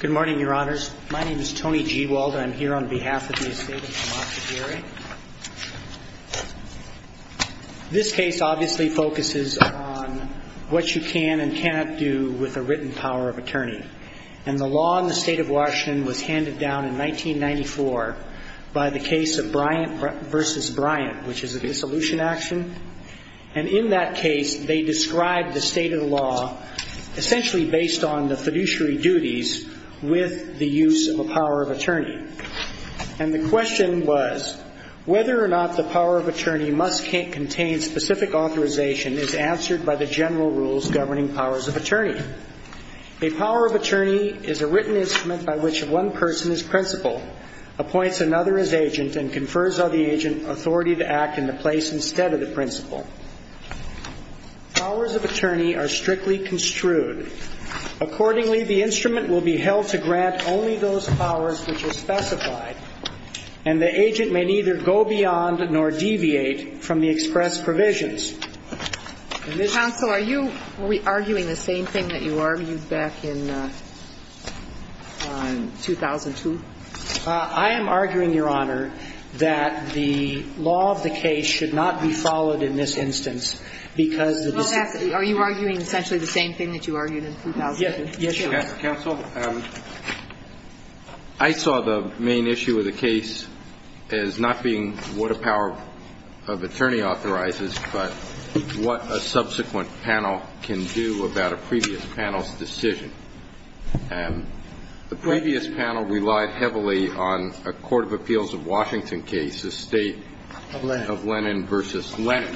Good morning, Your Honors. My name is Tony G. Wald and I'm here on behalf of the Estate of Tomas Aguirre. This case obviously focuses on what you can and cannot do with a written power of attorney. And the law in the State of Washington was handed down in 1994 by the case of Bryant v. Bryant, which is a dissolution action, and in that case they described the state of the law essentially based on the fiduciary duties with the use of a power of attorney. And the question was, whether or not the power of attorney must contain specific authorization is answered by the general rules governing powers of attorney. A power of attorney is a written instrument by which one person as principal appoints another as agent and confers on the agent authority to act in the place instead of the principal. Powers of attorney are strictly construed. Accordingly, the instrument will be held to grant only those powers which are specified, and the agent may neither go beyond nor deviate from the expressed provisions. Counsel, are you arguing the same thing that you argued back in 2002? I am arguing, Your Honor, that the law of the case should not be followed in this instance, because the decision of the case should not be followed. Are you arguing essentially the same thing that you argued in 2000? Yes, Your Honor. Counsel, I saw the main issue of the case as not being what a power of attorney authorizes, but what a subsequent panel can do about a previous panel's decision. The previous panel relied heavily on a court of appeals of Washington case, the State of Lennon v. Lennon,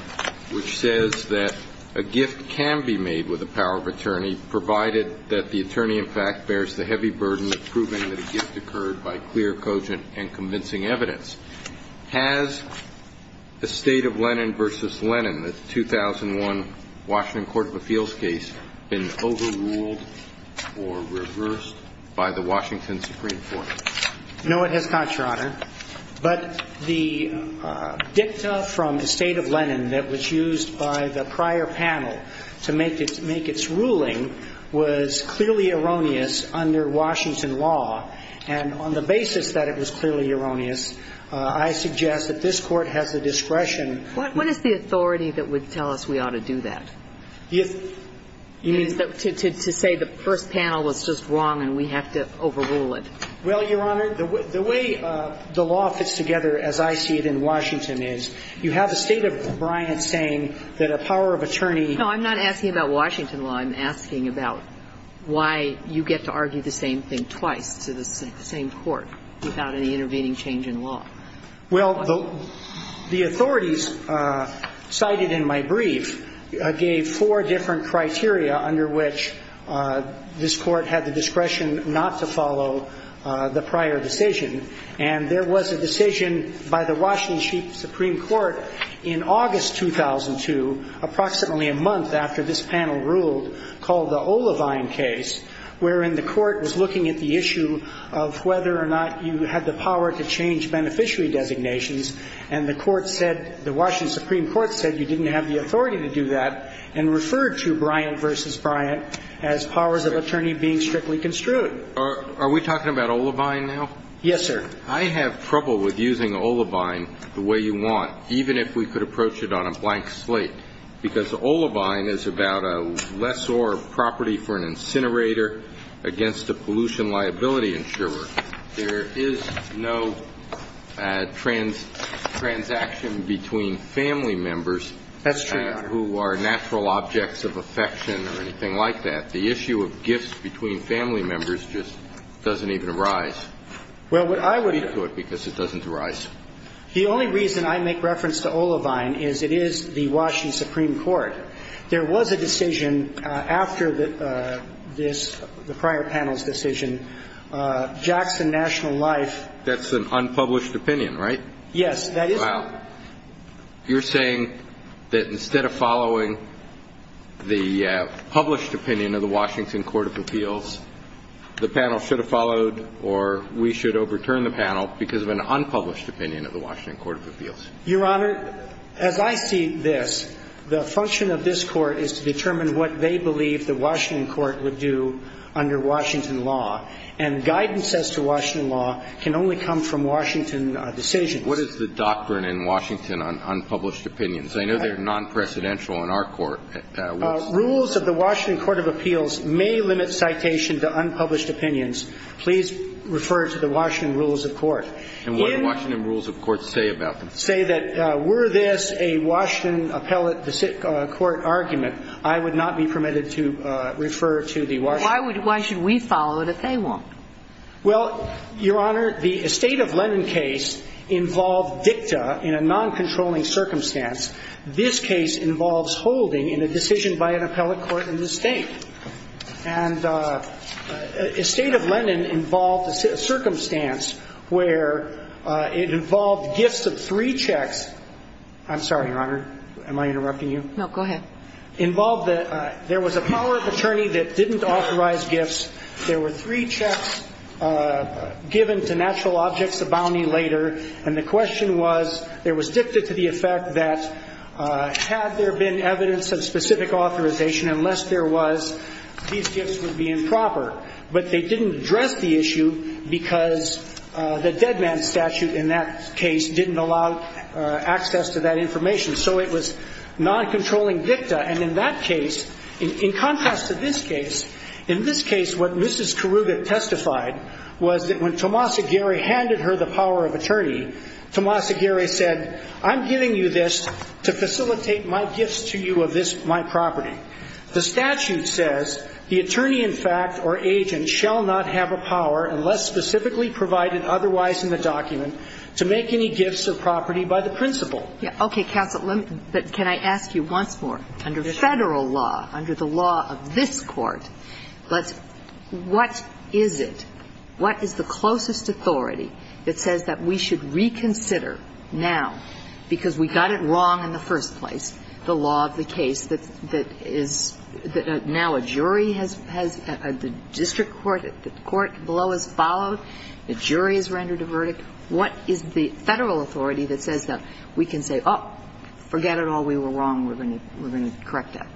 which says that a gift can be made with a power of attorney, provided that the attorney in fact bears the heavy burden of proving that a gift occurred by clear, cogent, and convincing evidence. Has the State of Lennon v. Lennon, the 2001 Washington court of appeals case, been overruled or reversed by the Washington Supreme Court? No, it has not, Your Honor. But the dicta from the State of Lennon that was used by the prior panel to make its ruling was clearly erroneous under Washington law. And on the basis that it was clearly erroneous, I suggest that this Court has the discretion. What is the authority that would tell us we ought to do that? You mean to say the first panel was just wrong and we have to overrule it? Well, Your Honor, the way the law fits together, as I see it in Washington, is you have the State of Bryant saying that a power of attorney No, I'm not asking about Washington law. I'm asking about why you get to argue the same thing twice to the same court without any intervening change in law. Well, the authorities cited in my brief gave four different criteria under which this Court had the discretion not to follow the prior decision. And there was a decision by the Washington Supreme Court in August 2002, approximately a month after this panel ruled, called the Olivine case, wherein the Court was looking at the issue of whether or not you had the power to change beneficiary designations. And the Court said the Washington Supreme Court said you didn't have the authority to do that and referred to Bryant v. Bryant as powers of attorney being strictly construed. Are we talking about Olivine now? Yes, sir. I have trouble with using Olivine the way you want, even if we could approach it on a blank slate, because Olivine is about a lessor of property for an incinerator against a pollution liability insurer. There is no transaction between family members who are natural objects of affection or anything like that. The issue of gifts between family members just doesn't even arise. Well, what I would do to it because it doesn't arise. The only reason I make reference to Olivine is it is the Washington Supreme Court. There was a decision after this, the prior panel's decision, Jackson National Life. That's an unpublished opinion, right? Yes, that is. Well, you're saying that instead of following the published opinion of the Washington Court of Appeals, the panel should have followed or we should overturn the panel because of an unpublished opinion of the Washington Court of Appeals? Your Honor, as I see this, the function of this Court is to determine what they believe the Washington Court would do under Washington law. And guidance as to Washington law can only come from Washington decisions. What is the doctrine in Washington on unpublished opinions? I know they're non-presidential in our court. Rules of the Washington Court of Appeals may limit citation to unpublished opinions. Please refer to the Washington rules of court. And what do Washington rules of court say about them? Say that were this a Washington appellate court argument, I would not be permitted to refer to the Washington. Why should we follow it if they won't? Well, Your Honor, the estate of Lennon case involved dicta in a non-controlling circumstance. This case involves holding in a decision by an appellate court in this State. And estate of Lennon involved a circumstance where it involved gifts of three checks. I'm sorry, Your Honor. Am I interrupting you? No, go ahead. Involved that there was a power of attorney that didn't authorize gifts. There were three checks given to natural objects, a bounty later. And the question was there was dicta to the effect that had there been evidence of specific authorization, unless there was, these gifts would be improper. But they didn't address the issue because the dead man statute in that case didn't allow access to that information. So it was non-controlling dicta. And in that case, in contrast to this case, in this case what Mrs. Karuga testified was that when Tomas Aguirre handed her the power of attorney, Tomas Aguirre said, I'm giving you this to facilitate my gifts to you of this, my property. The statute says the attorney in fact or agent shall not have a power unless specifically provided otherwise in the document to make any gifts of property by the principal. Okay, counsel. But can I ask you once more? Under Federal law, under the law of this Court, what is it, what is the closest authority that says that we should reconsider now, because we got it wrong in the first place, the law of the case that is now a jury has, the district court, the court below has followed, the jury has rendered a verdict. What is the Federal authority that says that we can say, oh, forget it all, we were wrong, we're going to correct that?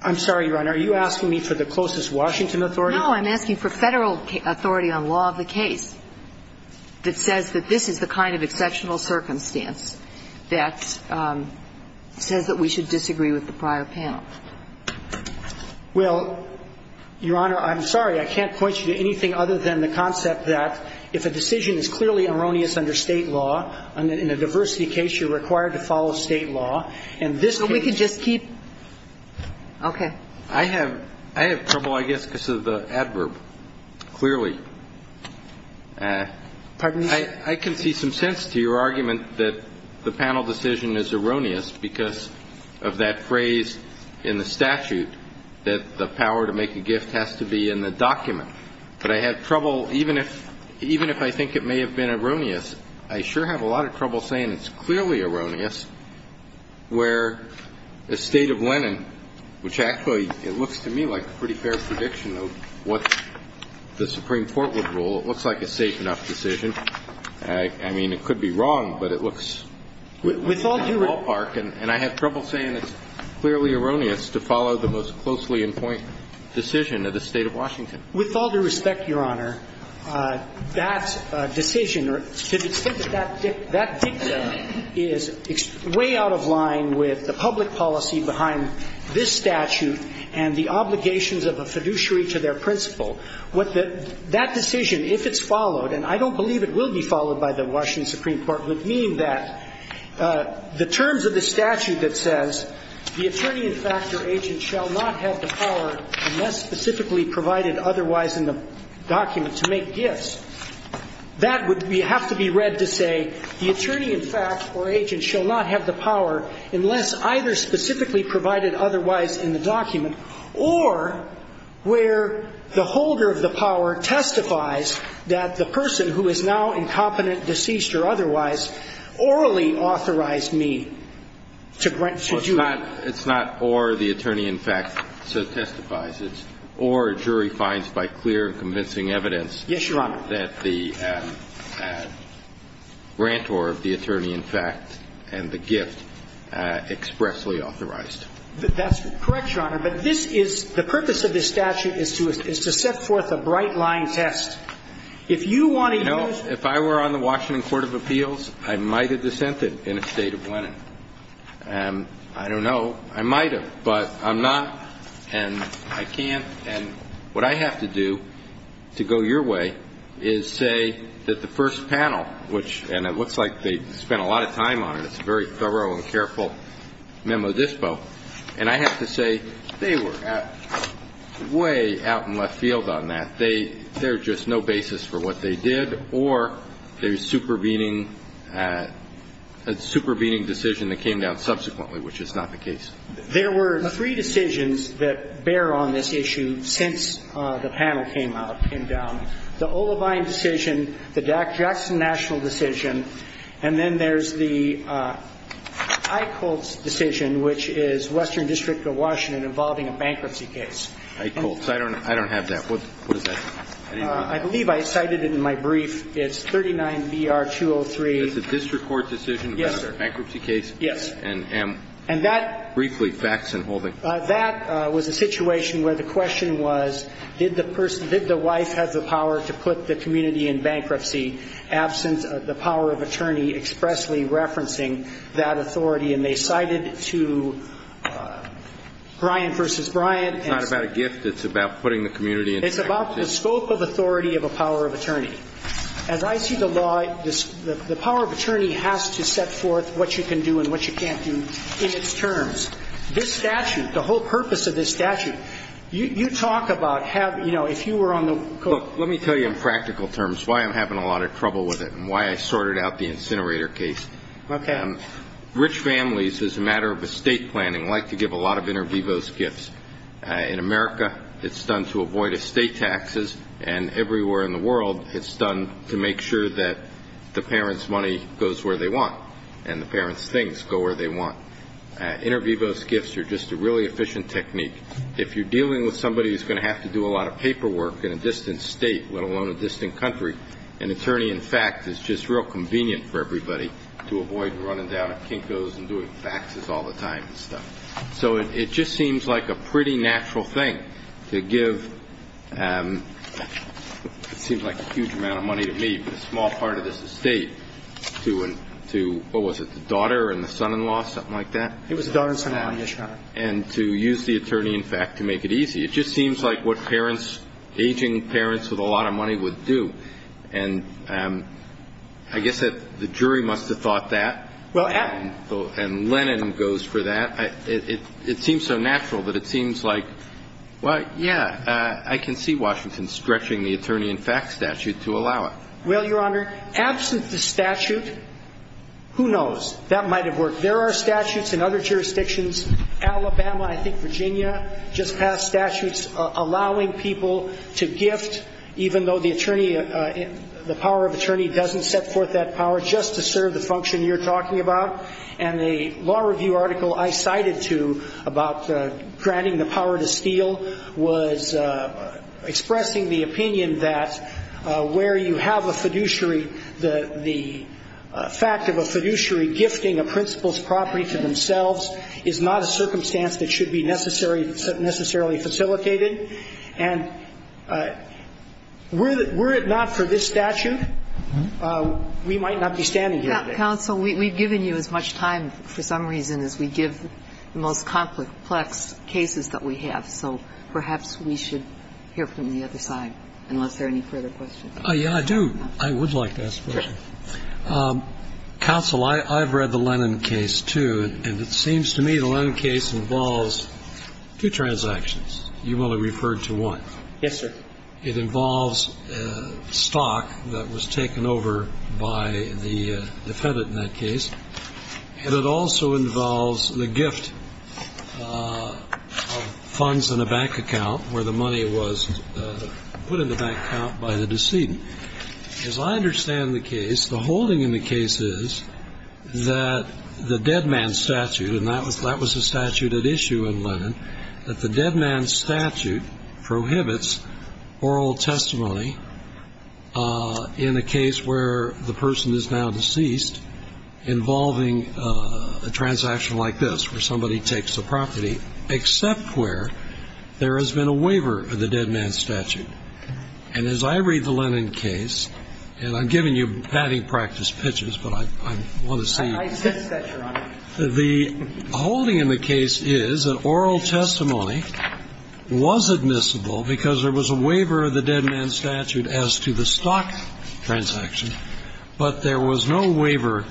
I'm sorry, Your Honor. Are you asking me for the closest Washington authority? No, I'm asking for Federal authority on law of the case that says that this is the kind of exceptional circumstance that says that we should disagree with the prior panel. Well, Your Honor, I'm sorry, I can't point you to anything other than the concept that if a decision is clearly erroneous under State law, in a diversity case, you're required to follow State law, and this case. But we could just keep. Okay. I have trouble, I guess, because of the adverb, clearly. Pardon me, sir? I can see some sense to your argument that the panel decision is erroneous because of that phrase in the statute that the power to make a gift has to be in the document. But I have trouble, even if I think it may have been erroneous, I sure have a lot of trouble saying it's clearly erroneous where the State of Lennon, which actually it looks to me like a pretty fair prediction of what the Supreme Court would rule. It looks like a safe enough decision. I mean, it could be wrong, but it looks like a ballpark. And I have trouble saying it's clearly erroneous to follow the most closely in point decision of the State of Washington. With all due respect, Your Honor, that decision or to the extent that that dictum is way out of line with the public policy behind this statute and the obligations of a fiduciary to their principal, what that decision, if it's followed, and I don't believe it will be followed by the Washington Supreme Court, would mean that the terms of the statute that says the attorney-in-fact or agent shall not have the power unless specifically provided otherwise in the document to make gifts, that would have to be read to say the attorney-in-fact or agent shall not have the power unless either specifically provided otherwise in the document or where the holder of the power to do it. Well, it's not or the attorney-in-fact testifies. It's or a jury finds by clear and convincing evidence that the grantor of the attorney-in-fact and the gift expressly authorized. That's correct, Your Honor. But this is the purpose of this statute is to set forth a bright-line test. If you want to use the ---- I don't know. I might have, but I'm not and I can't. And what I have to do to go your way is say that the first panel, which ---- and it looks like they spent a lot of time on it. It's a very thorough and careful memo dispo. And I have to say they were way out in left field on that. They're just no basis for what they did or a super beating decision that came down subsequently, which is not the case. There were three decisions that bear on this issue since the panel came down. The Olavine decision, the Jackson National decision, and then there's the Eichholz decision, which is Western District of Washington involving a bankruptcy case. Eichholz. I don't have that. What is that? I believe I cited it in my brief. It's 39-BR-203. It's a district court decision? Yes, sir. Bankruptcy case? Yes. And that ---- Briefly, facts and holding. That was a situation where the question was did the wife have the power to put the community in bankruptcy, absence of the power of attorney expressly referencing that authority. And they cited to Bryan v. Bryan. It's not about a gift. It's about putting the community in bankruptcy. It's about the scope of authority of a power of attorney. As I see the law, the power of attorney has to set forth what you can do and what you can't do in its terms. This statute, the whole purpose of this statute, you talk about have, you know, if you were on the court ---- Look, let me tell you in practical terms why I'm having a lot of trouble with it and why I sorted out the incinerator case. Okay. Rich families, as a matter of estate planning, like to give a lot of inter vivos gifts. In America it's done to avoid estate taxes, and everywhere in the world it's done to make sure that the parents' money goes where they want and the parents' things go where they want. Inter vivos gifts are just a really efficient technique. If you're dealing with somebody who's going to have to do a lot of paperwork in a distant state, let alone a distant country, an attorney in fact is just real convenient for everybody to avoid running down at Kinko's and doing faxes all the time and stuff. So it just seems like a pretty natural thing to give, it seems like a huge amount of money to me, but a small part of this estate, to what was it, the daughter and the son-in-law, something like that? It was the daughter and son-in-law, yes, Your Honor. And to use the attorney, in fact, to make it easy. It just seems like what parents, aging parents with a lot of money would do. And I guess that the jury must have thought that. And Lennon goes for that. It seems so natural that it seems like, well, yeah, I can see Washington stretching the attorney in fact statute to allow it. Well, Your Honor, absent the statute, who knows? That might have worked. There are statutes in other jurisdictions, Alabama, I think Virginia, just passed statutes allowing people to gift even though the power of attorney doesn't set forth that power, just to serve the function you're talking about. And the law review article I cited to about granting the power to steal was expressing the opinion that where you have a fiduciary, the fact of a fiduciary gifting a principal's property to themselves is not a circumstance that should be necessarily facilitated. And were it not for this statute, we might not be standing here today. Counsel, we've given you as much time for some reason as we give the most complex cases that we have. So perhaps we should hear from the other side, unless there are any further questions. Yeah, I do. I would like to ask a question. Counsel, I've read the Lennon case, too, and it seems to me the Lennon case involves two transactions. You only referred to one. Yes, sir. It involves stock that was taken over by the defendant in that case, and it also involves the gift of funds in a bank account where the money was put in the bank account by the decedent. As I understand the case, the holding in the case is that the dead man statute, and that was a statute at issue in Lennon, that the dead man statute prohibits oral testimony in a case where the person is now deceased involving a transaction like this, where somebody takes the property, except where there has been a waiver of the dead man statute. And as I read the Lennon case, and I'm giving you batting practice pitches, but I want to make sure that you understand, the holding in the case is that oral testimony was admissible because there was a waiver of the dead man statute as to the stock transaction, but there was no waiver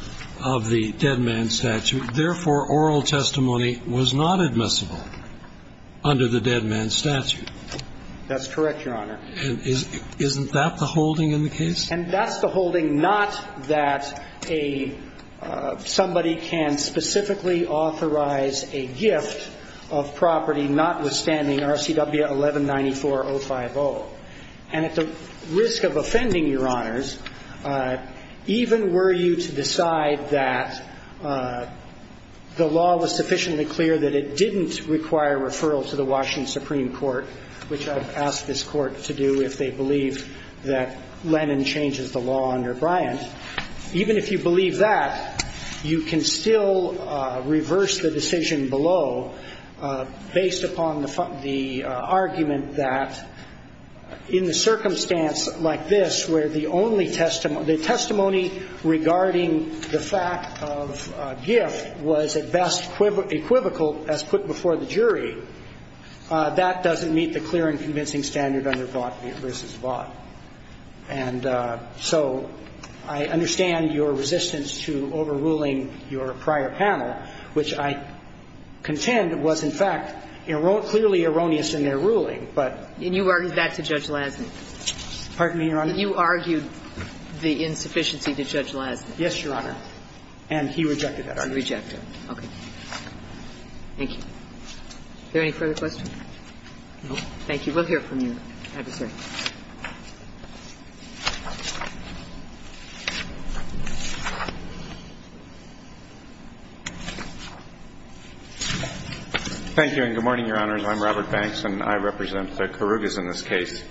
of the dead man statute. Therefore, oral testimony was not admissible under the dead man statute. That's correct, Your Honor. And isn't that the holding in the case? And that's the holding not that somebody can specifically authorize a gift of property notwithstanding RCW 1194-050. And at the risk of offending Your Honors, even were you to decide that the law was sufficiently clear that it didn't require referral to the Washington Supreme Court, which I've asked this Court to do if they believe that Lennon changes the law under Bryant, even if you believe that, you can still reverse the decision below based upon the argument that in the circumstance like this where the only testimony the testimony regarding the fact of gift was at best equivocal as put before the jury, that doesn't meet the clear and convincing standard under Vought v. Vought. And so I understand your resistance to overruling your prior panel, which I contend was, in fact, clearly erroneous in their ruling, but you argued that to Judge Lasny. Pardon me, Your Honor? You argued the insufficiency to Judge Lasny. Yes, Your Honor. And he rejected that argument. He rejected it. Thank you. Is there any further questions? No. Thank you. We'll hear from your adversary. Thank you, and good morning, Your Honors. I'm Robert Banks, and I represent the Karrugas in this case.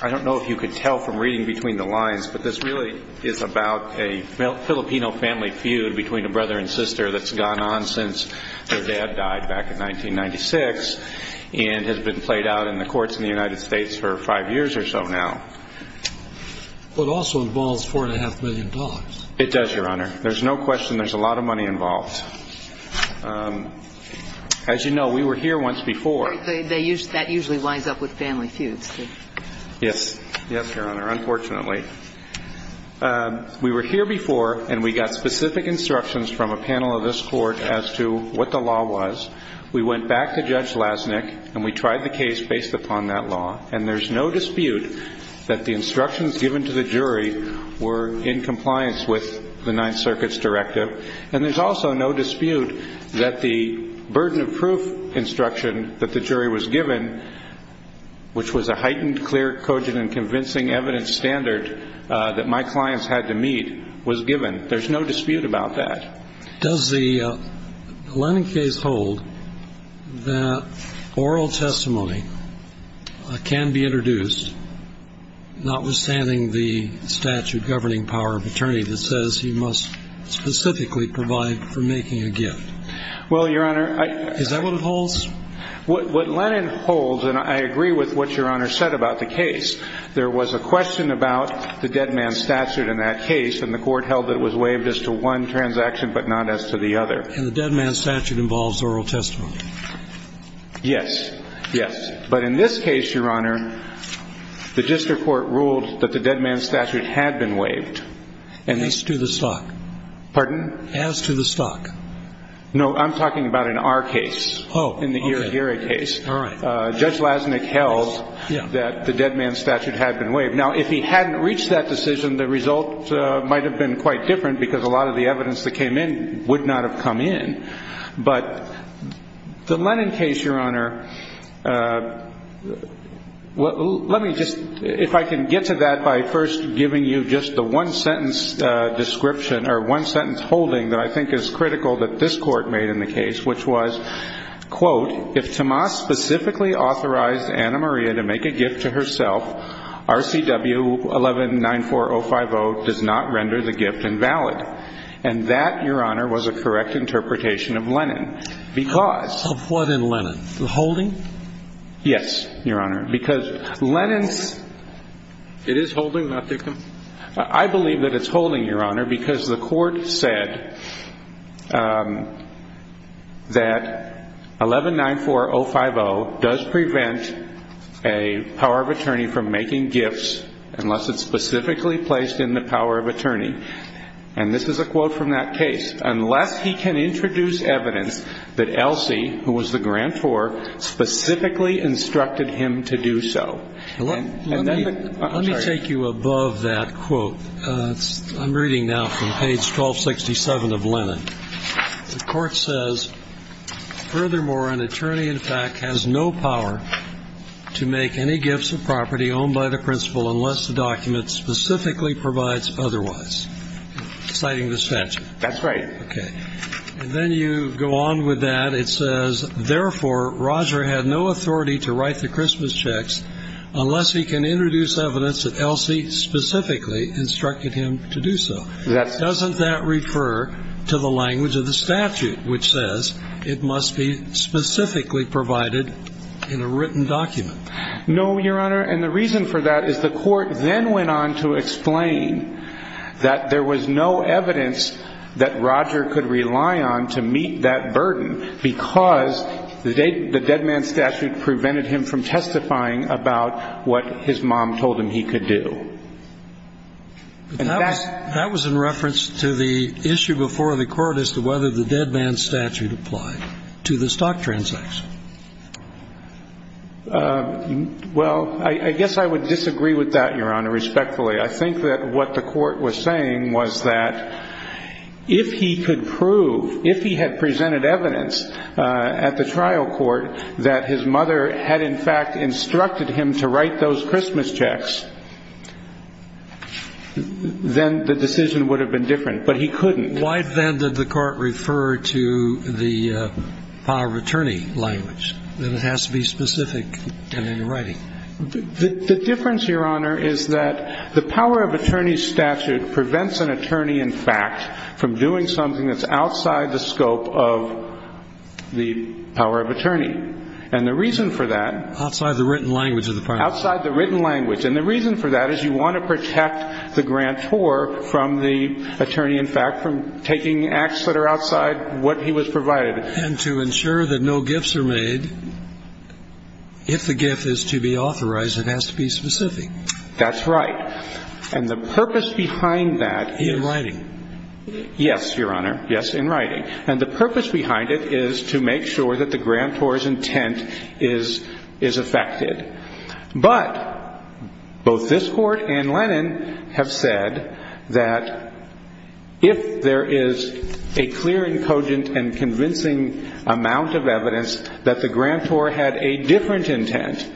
I don't know if you could tell from reading between the lines, but this really is about a Filipino family feud between a brother and sister that's gone on since their dad died back in 1996 and has been played out in the courts in the United States for five years or so now. Well, it also involves $4.5 million. It does, Your Honor. There's no question there's a lot of money involved. As you know, we were here once before. That usually winds up with family feuds. Yes. Yes, Your Honor, unfortunately. We were here before, and we got specific instructions from a panel of this court as to what the law was. We went back to Judge Lasnik, and we tried the case based upon that law. And there's no dispute that the instructions given to the jury were in compliance with the Ninth Circuit's directive. And there's also no dispute that the burden of proof instruction that the jury was given, which was a heightened, clear, cogent, and convincing evidence standard that my clients had to meet, was given. There's no dispute about that. Does the Lennon case hold that oral testimony can be introduced, notwithstanding the statute governing power of attorney that says you must specifically provide for making a gift? Well, Your Honor, I... Is that what it holds? What Lennon holds, and I agree with what Your Honor said about the case, there was a dispute about the dead man's statute in that case. And the court held that it was waived as to one transaction, but not as to the other. And the dead man's statute involves oral testimony? Yes. Yes. But in this case, Your Honor, the district court ruled that the dead man's statute had been waived. As to the stock? Pardon? As to the stock. No, I'm talking about in our case. Oh, okay. In the Iragiri case. All right. Judge Lasnik held that the dead man's statute had been waived. Now, if he hadn't reached that decision, the result might have been quite different because a lot of the evidence that came in would not have come in. But the Lennon case, Your Honor, let me just... If I can get to that by first giving you just the one-sentence description or one-sentence holding that I think is critical that this court made in the case, which was, quote, if Tomas specifically authorized Anna Maria to make a gift to herself, RCW 1194050 does not render the gift invalid. And that, Your Honor, was a correct interpretation of Lennon because... Of what in Lennon? The holding? Yes, Your Honor, because Lennon's... It is holding, not victim? I believe that it's holding, Your Honor, because the court said that 1194050 does prevent a power of attorney from making gifts unless it's specifically placed in the power of attorney. And this is a quote from that case. Unless he can introduce evidence that Elsie, who was the grantor, specifically instructed him to do so. Let me take you above that quote. I'm reading now from page 1267 of Lennon. The court says, furthermore, an attorney, in fact, has no power to make any gifts of property owned by the principal unless the document specifically provides otherwise. Citing this statute. That's right. Okay. And then you go on with that. It says, therefore, Roger had no authority to write the Christmas checks unless he can introduce evidence that Elsie specifically instructed him to do so. Doesn't that refer to the language of the statute, which says it must be specifically provided in a written document? No, Your Honor, and the reason for that is the court then went on to explain that there was no evidence that Roger could rely on to meet that burden because the dead man statute prevented him from testifying about what his mom told him he could do. That was in reference to the issue before the court as to whether the dead man statute applied to the stock transactions. Well, I guess I would disagree with that, Your Honor, respectfully. I think that what the court was saying was that if he could prove, if he had presented evidence at the trial court that his mother had, in fact, instructed him to write those Christmas checks, then the decision would have been different. But he couldn't. Why then did the court refer to the power of attorney language, that it has to be specific and in writing? The difference, Your Honor, is that the power of attorney statute prevents an attorney, in fact, from doing something that's outside the scope of the power of attorney. And the reason for that— Outside the written language of the power of attorney. Outside the written language. And the reason for that is you want to protect the grantor from the attorney, in fact, from taking acts that are outside what he was provided. And to ensure that no gifts are made, if the gift is to be authorized, it has to be specific. That's right. And the purpose behind that is— In writing. Yes, Your Honor. Yes, in writing. And the purpose behind it is to make sure that the grantor's intent is affected. But both this Court and Lennon have said that if there is a clear and cogent and convincing amount of evidence that the grantor had a different intent,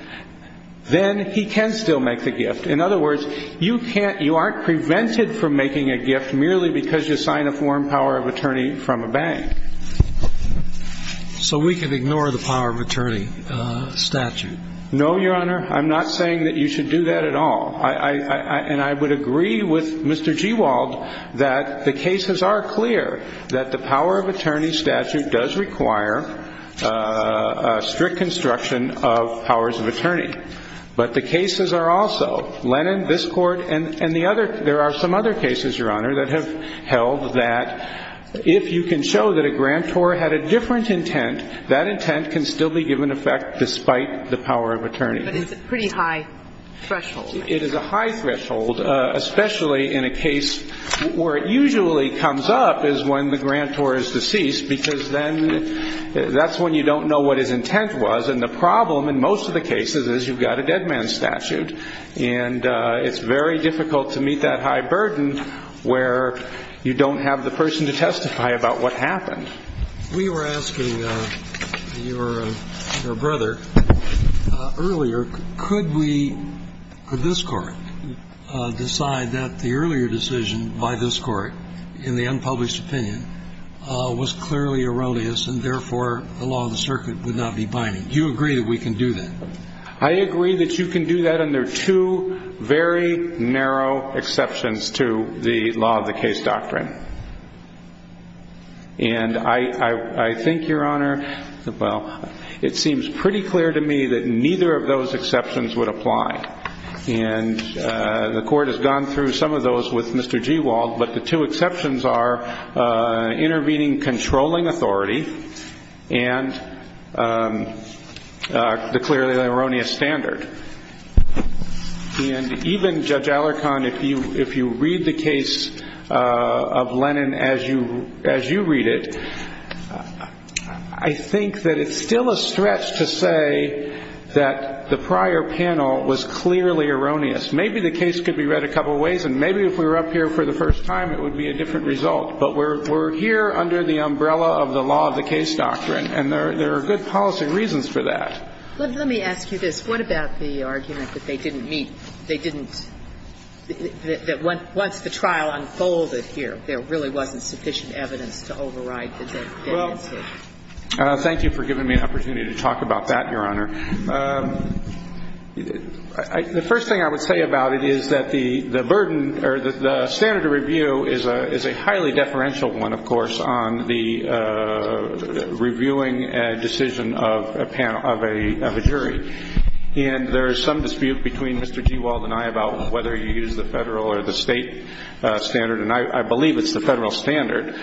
then he can still make the gift. In other words, you can't—you aren't prevented from making a gift merely because you sign a foreign power of attorney from a bank. So we can ignore the power of attorney statute? No, Your Honor. I'm not saying that you should do that at all. And I would agree with Mr. Gewald that the cases are clear that the power of attorney statute does require a strict construction of powers of attorney. But the cases are also—Lennon, this Court, and the other—there are some other cases, Your Honor, that have held that if you can show that a grantor has a different intent, that intent can still be given effect despite the power of attorney. But it's a pretty high threshold. It is a high threshold, especially in a case where it usually comes up is when the grantor is deceased, because then that's when you don't know what his intent was. And the problem in most of the cases is you've got a dead man statute, and it's very difficult to meet that high burden where you don't have the person to testify about what happened. We were asking your brother earlier, could we, this Court, decide that the earlier decision by this Court in the unpublished opinion was clearly erroneous and therefore the law of the circuit would not be binding? Do you agree that we can do that? I agree that you can do that, and there are two very narrow exceptions to the law of the case doctrine. And I think, Your Honor, well, it seems pretty clear to me that neither of those exceptions would apply. And the Court has gone through some of those with Mr. Gewald, but the two exceptions are intervening controlling authority and the clearly erroneous standard. And even, Judge Alarcon, if you read the case of Lennon as you read it, I think that it's still a stretch to say that the prior panel was clearly erroneous. Maybe the case could be read a couple of ways, and maybe if we were up here for the first time it would be a different result. But we're here under the umbrella of the law of the case doctrine, and there are good policy reasons for that. Let me ask you this. What about the argument that they didn't meet? They didn't – that once the trial unfolded here, there really wasn't sufficient evidence to override the definition? Well, thank you for giving me an opportunity to talk about that, Your Honor. The first thing I would say about it is that the burden or the standard of review is a highly deferential one, of course, on the reviewing a decision of a panel – of a jury. And there is some dispute between Mr. Gewald and I about whether you use the Federal or the State standard, and I believe it's the Federal standard.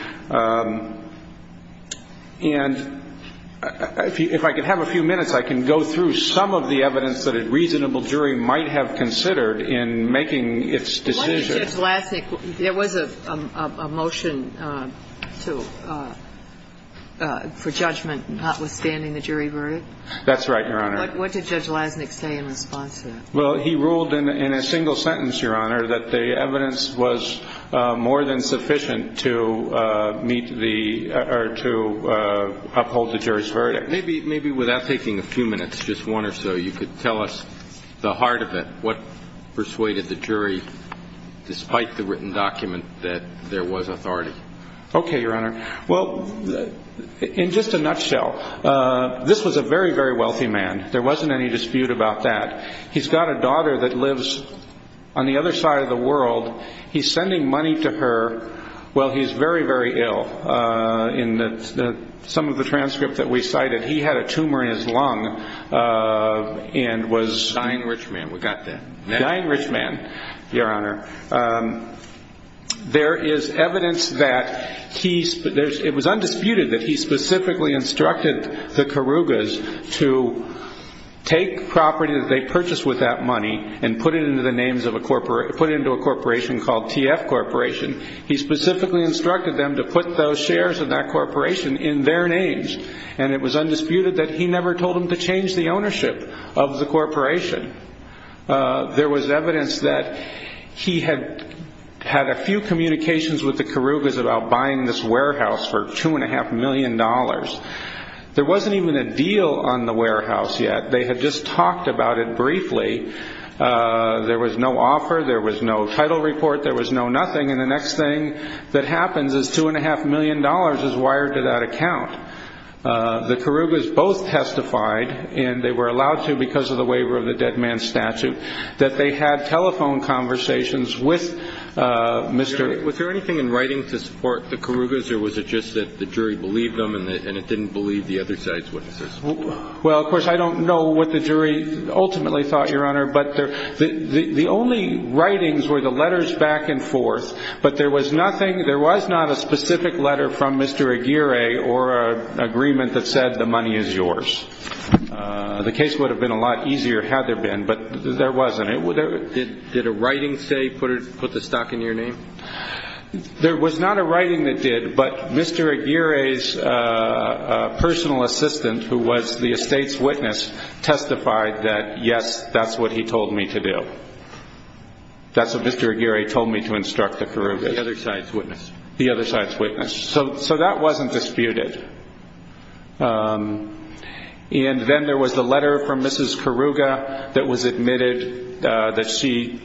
And if I could have a few minutes, I can go through some of the evidence that a reasonable jury might have considered in making its decision. Judge Lasnik, there was a motion to – for judgment notwithstanding the jury verdict? That's right, Your Honor. What did Judge Lasnik say in response to that? Well, he ruled in a single sentence, Your Honor, that the evidence was more than sufficient to meet the – or to uphold the jury's verdict. Maybe without taking a few minutes, just one or so, you could tell us the heart of it. What persuaded the jury, despite the written document, that there was authority? Okay, Your Honor. Well, in just a nutshell, this was a very, very wealthy man. There wasn't any dispute about that. He's got a daughter that lives on the other side of the world. He's sending money to her while he's very, very ill. In some of the transcripts that we cited, he had a tumor in his lung and was – a dying rich man, Your Honor. There is evidence that he – it was undisputed that he specifically instructed the Karugas to take property that they purchased with that money and put it into the names of a – put it into a corporation called TF Corporation. He specifically instructed them to put those shares of that corporation in their names, and it was undisputed that he never told them to change the ownership of the corporation. There was evidence that he had had a few communications with the Karugas about buying this warehouse for $2.5 million. There wasn't even a deal on the warehouse yet. They had just talked about it briefly. There was no offer. There was no title report. There was no nothing. And the next thing that happens is $2.5 million is wired to that account. The Karugas both testified, and they were allowed to because of the waiver of the dead man statute, that they had telephone conversations with Mr. – Was there anything in writing to support the Karugas, or was it just that the jury believed them and it didn't believe the other side's witnesses? Well, of course, I don't know what the jury ultimately thought, Your Honor, but the only writings were the letters back and forth, but there was nothing. There was not a specific letter from Mr. Aguirre or an agreement that said the money is yours. The case would have been a lot easier had there been, but there wasn't. Did a writing, say, put the stock in your name? There was not a writing that did, but Mr. Aguirre's personal assistant, who was the estate's witness, testified that, yes, that's what he told me to do. That's what Mr. Aguirre told me to instruct the Karugas. The other side's witness. The other side's witness. So that wasn't disputed. And then there was the letter from Mrs. Karuga that was admitted that she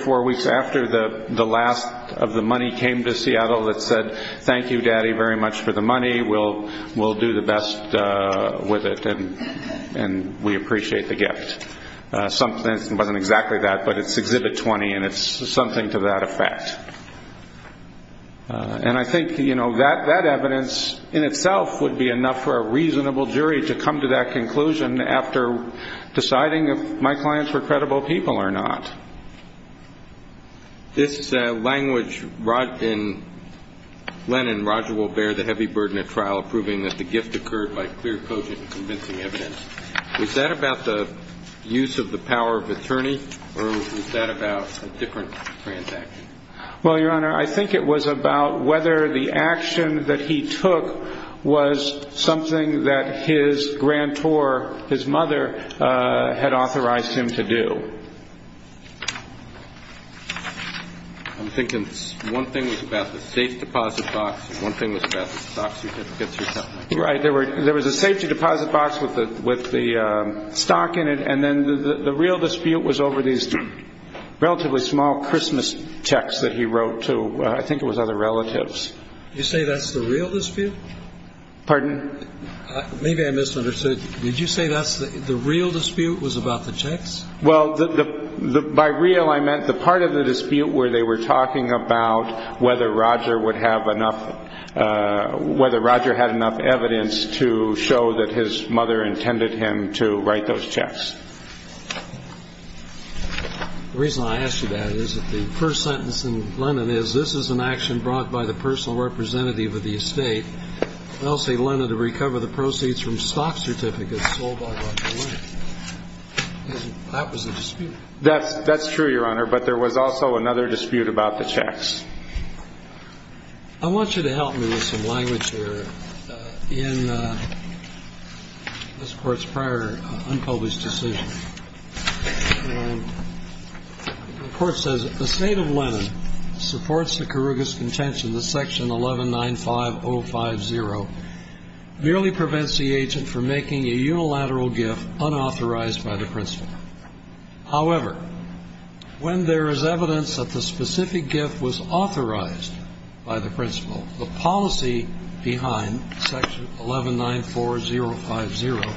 – four weeks after the last of the money came to Seattle that said, thank you, Daddy, very much for the money. We'll do the best with it, and we appreciate the gift. It wasn't exactly that, but it's Exhibit 20, and it's something to that effect. And I think that evidence in itself would be enough for a reasonable jury to come to that conclusion after deciding if my clients were credible people or not. This language, Len and Roger will bear the heavy burden of trial, proving that the gift occurred by clear, cogent, convincing evidence. Was that about the use of the power of attorney, or was that about a different transaction? Well, Your Honor, I think it was about whether the action that he took was something that his grantor, his mother, had authorized him to do. I'm thinking one thing was about the safe deposit box, and one thing was about the stocks you had to get through. Right. There was a safety deposit box with the stock in it, and then the real dispute was over these relatively small Christmas checks that he wrote to, I think it was, other relatives. Did you say that's the real dispute? Pardon? Maybe I misunderstood. Did you say the real dispute was about the checks? Well, by real, I meant the part of the dispute where they were talking about whether Roger had enough evidence to show that his mother intended him to write those checks. The reason I asked you that is that the first sentence in Lenin is, this is an action brought by the personal representative of the estate, Elsie Lenin, to recover the proceeds from stock certificates sold by Roger Lenin. That was the dispute. That's true, Your Honor, but there was also another dispute about the checks. I want you to help me with some language here in this Court's prior unpublished decision. The Court says, The State of Lenin supports the Kyrgios contention that Section 1195050 merely prevents the agent from making a unilateral gift unauthorized by the principal. However, when there is evidence that the specific gift was authorized by the principal, the policy behind Section 1194050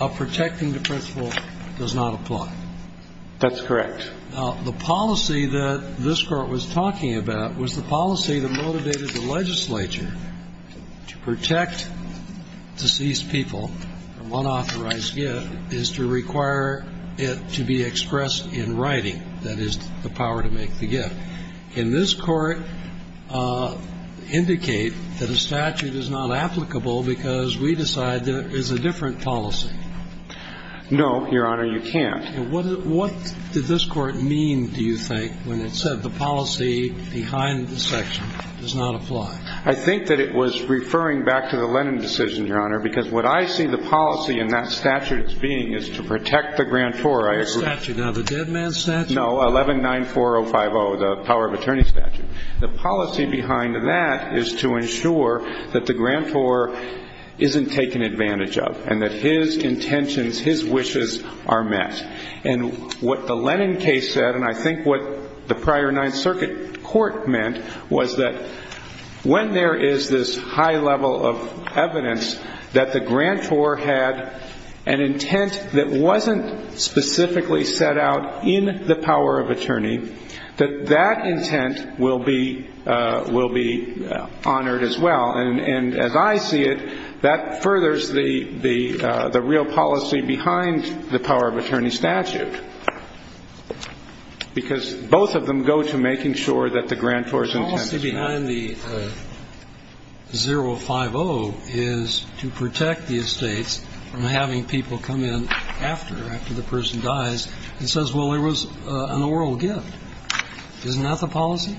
of protecting the principal does not apply. That's correct. Now, the policy that this Court was talking about was the policy that motivated the legislature to protect deceased people from unauthorized gift is to require it to be expressed in writing. That is the power to make the gift. Can this Court indicate that a statute is not applicable because we decide there is a different policy? No, Your Honor, you can't. What did this Court mean, do you think, when it said the policy behind the section does not apply? I think that it was referring back to the Lenin decision, Your Honor, because what I see the policy in that statute as being is to protect the grantor. Now, the dead man statute? No, 1194050, the power of attorney statute. The policy behind that is to ensure that the grantor isn't taken advantage of and that his intentions, his wishes are met. And what the Lenin case said, and I think what the prior Ninth Circuit Court meant, was that when there is this high level of evidence that the grantor had an intent that wasn't specifically set out in the power of attorney, that that intent will be honored as well. And as I see it, that furthers the real policy behind the power of attorney statute, because both of them go to making sure that the grantor's intent is met. The policy behind the 050 is to protect the estates from having people come in after, after the person dies, and says, well, it was an oral gift. Isn't that the policy?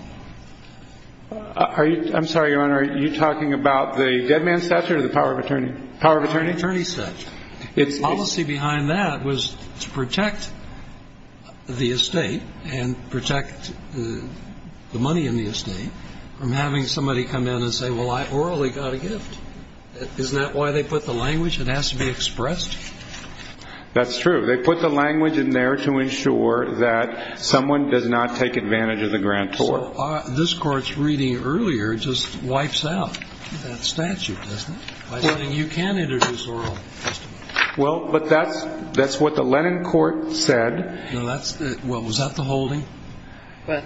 I'm sorry, Your Honor. Are you talking about the dead man statute or the power of attorney? The power of attorney statute. The policy behind that was to protect the estate and protect the money in the estate from having somebody come in and say, well, I orally got a gift. Isn't that why they put the language? It has to be expressed? That's true. They put the language in there to ensure that someone does not take advantage of the grantor. So this Court's reading earlier just wipes out that statute, doesn't it? By saying you can introduce oral testimony. Well, but that's what the Lennon Court said. Well, was that the holding? Well,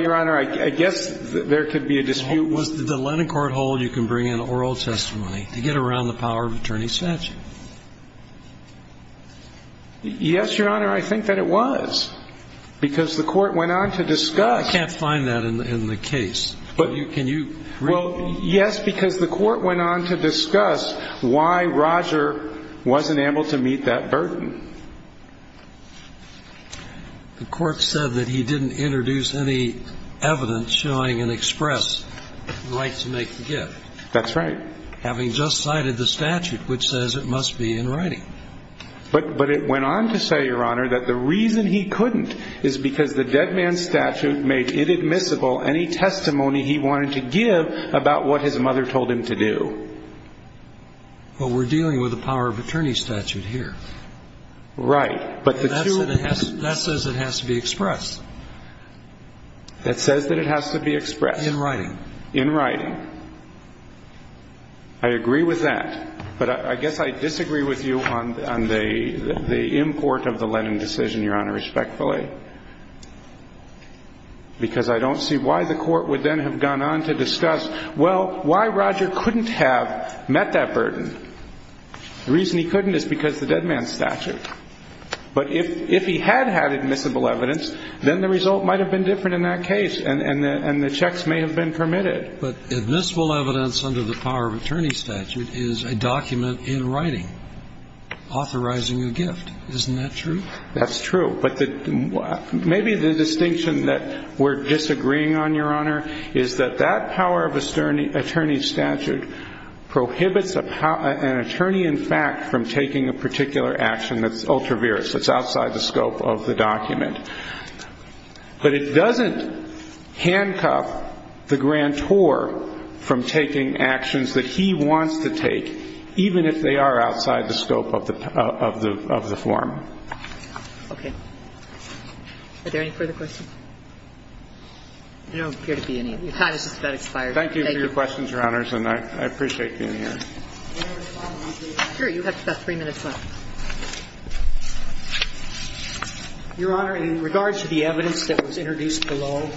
Your Honor, I guess there could be a dispute. Was the Lennon Court hold you can bring in oral testimony to get around the power of attorney statute? Yes, Your Honor, I think that it was, because the Court went on to discuss. I can't find that in the case. Can you read it? Well, yes, because the Court went on to discuss why Roger wasn't able to meet that burden. The Court said that he didn't introduce any evidence showing an express right to make the gift. That's right. Having just cited the statute, which says it must be in writing. But it went on to say, Your Honor, that the reason he couldn't is because the dead man statute made it admissible any testimony he wanted to give about what his mother told him to do. Well, we're dealing with a power of attorney statute here. Right. But the two of them. That says it has to be expressed. That says that it has to be expressed. In writing. In writing. I agree with that. But I guess I disagree with you on the import of the Lennon decision, Your Honor, respectfully, because I don't see why the Court would then have gone on to discuss, well, why Roger couldn't have met that burden. The reason he couldn't is because of the dead man statute. But if he had had admissible evidence, then the result might have been different in that case, and the checks may have been permitted. But admissible evidence under the power of attorney statute is a document in writing authorizing a gift. Isn't that true? That's true. But maybe the distinction that we're disagreeing on, Your Honor, is that that power of attorney statute prohibits an attorney, in fact, from taking a particular action that's ultra-virus, that's outside the scope of the document. But it doesn't handcuff the grantor from taking actions that he wants to take, even if they are outside the scope of the form. Okay. Are there any further questions? There don't appear to be any. Your time has just about expired. Thank you for your questions, Your Honors, and I appreciate being here. Your Honor, in regards to the evidence that was introduced below,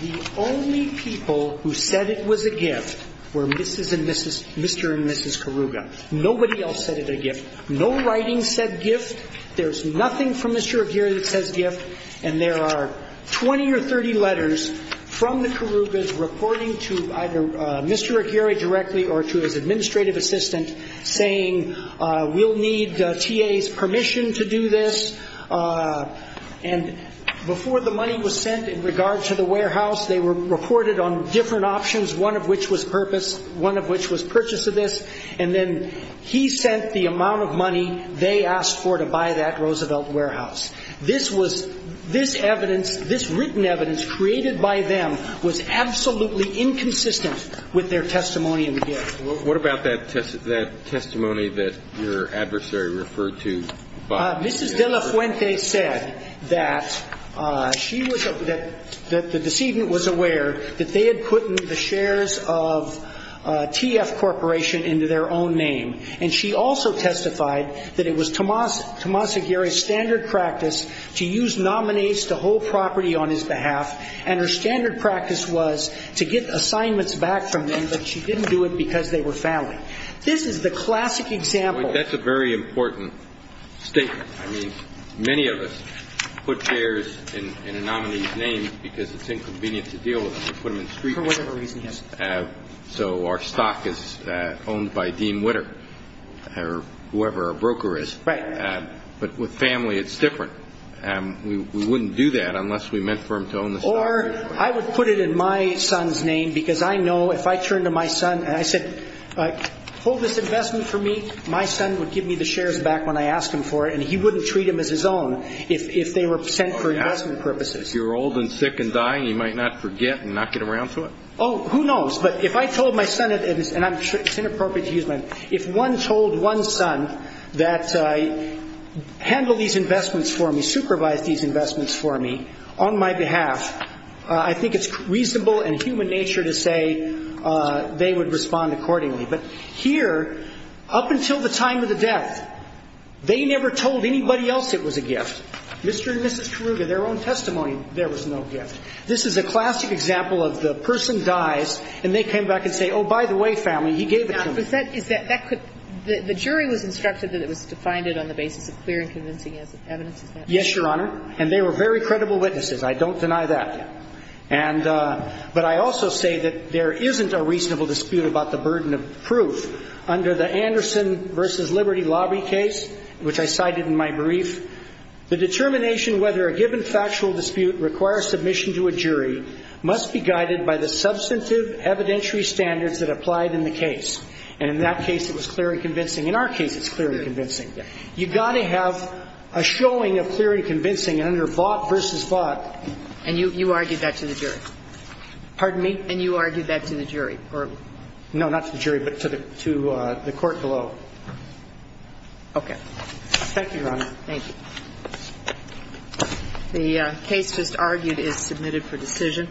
the only people who said it was a gift were Mrs. and Mr. and Mrs. Karuga. Nobody else said it was a gift. No writing said gift. There's nothing from Mr. Aguirre that says gift. And there are 20 or 30 letters from the Karugas reporting to either Mr. Aguirre directly or to his administrative assistant saying we'll need T.A.'s permission to do this. And before the money was sent in regards to the warehouse, they were reported on different options, one of which was purpose, one of which was purchase of this. And then he sent the amount of money they asked for to buy that Roosevelt warehouse. This evidence, this written evidence created by them, was absolutely inconsistent with their testimony in the gift. What about that testimony that your adversary referred to? Mrs. De La Fuente said that the decedent was aware that they had put the shares of T.F. Corporation into their own name. And she also testified that it was Tomas Aguirre's standard practice to use nominates to hold property on his behalf, and her standard practice was to get assignments back from them, but she didn't do it because they were family. This is the classic example. That's a very important statement. I mean, many of us put shares in a nominee's name because it's inconvenient to deal with them. For whatever reason, yes. So our stock is owned by Dean Witter or whoever our broker is. Right. But with family it's different. We wouldn't do that unless we meant for them to own the stock. Or I would put it in my son's name because I know if I turned to my son and I said, hold this investment for me, my son would give me the shares back when I asked him for it, and he wouldn't treat them as his own if they were sent for investment purposes. If you're old and sick and dying, you might not forget and not get around to it. Oh, who knows. But if I told my son, and it's inappropriate to use my name, if one told one son that handle these investments for me, supervise these investments for me on my behalf, I think it's reasonable and human nature to say they would respond accordingly. But here, up until the time of the death, they never told anybody else it was a gift. Mr. and Mrs. Karruga, their own testimony, there was no gift. This is a classic example of the person dies and they came back and say, oh, by the way, family, he gave it to me. Now, is that quick? The jury was instructed that it was defined on the basis of clear and convincing evidence. Yes, Your Honor. And they were very credible witnesses. I don't deny that. But I also say that there isn't a reasonable dispute about the burden of proof. Under the Anderson v. Liberty lobby case, which I cited in my brief, the determination whether a given factual dispute requires submission to a jury must be guided by the substantive evidentiary standards that applied in the case. And in that case, it was clear and convincing. In our case, it's clear and convincing. You've got to have a showing of clear and convincing. And under Vought v. Vought. And you argued that to the jury? Pardon me? And you argued that to the jury? Okay. Thank you, Your Honor. Thank you. The case just argued is submitted for decision.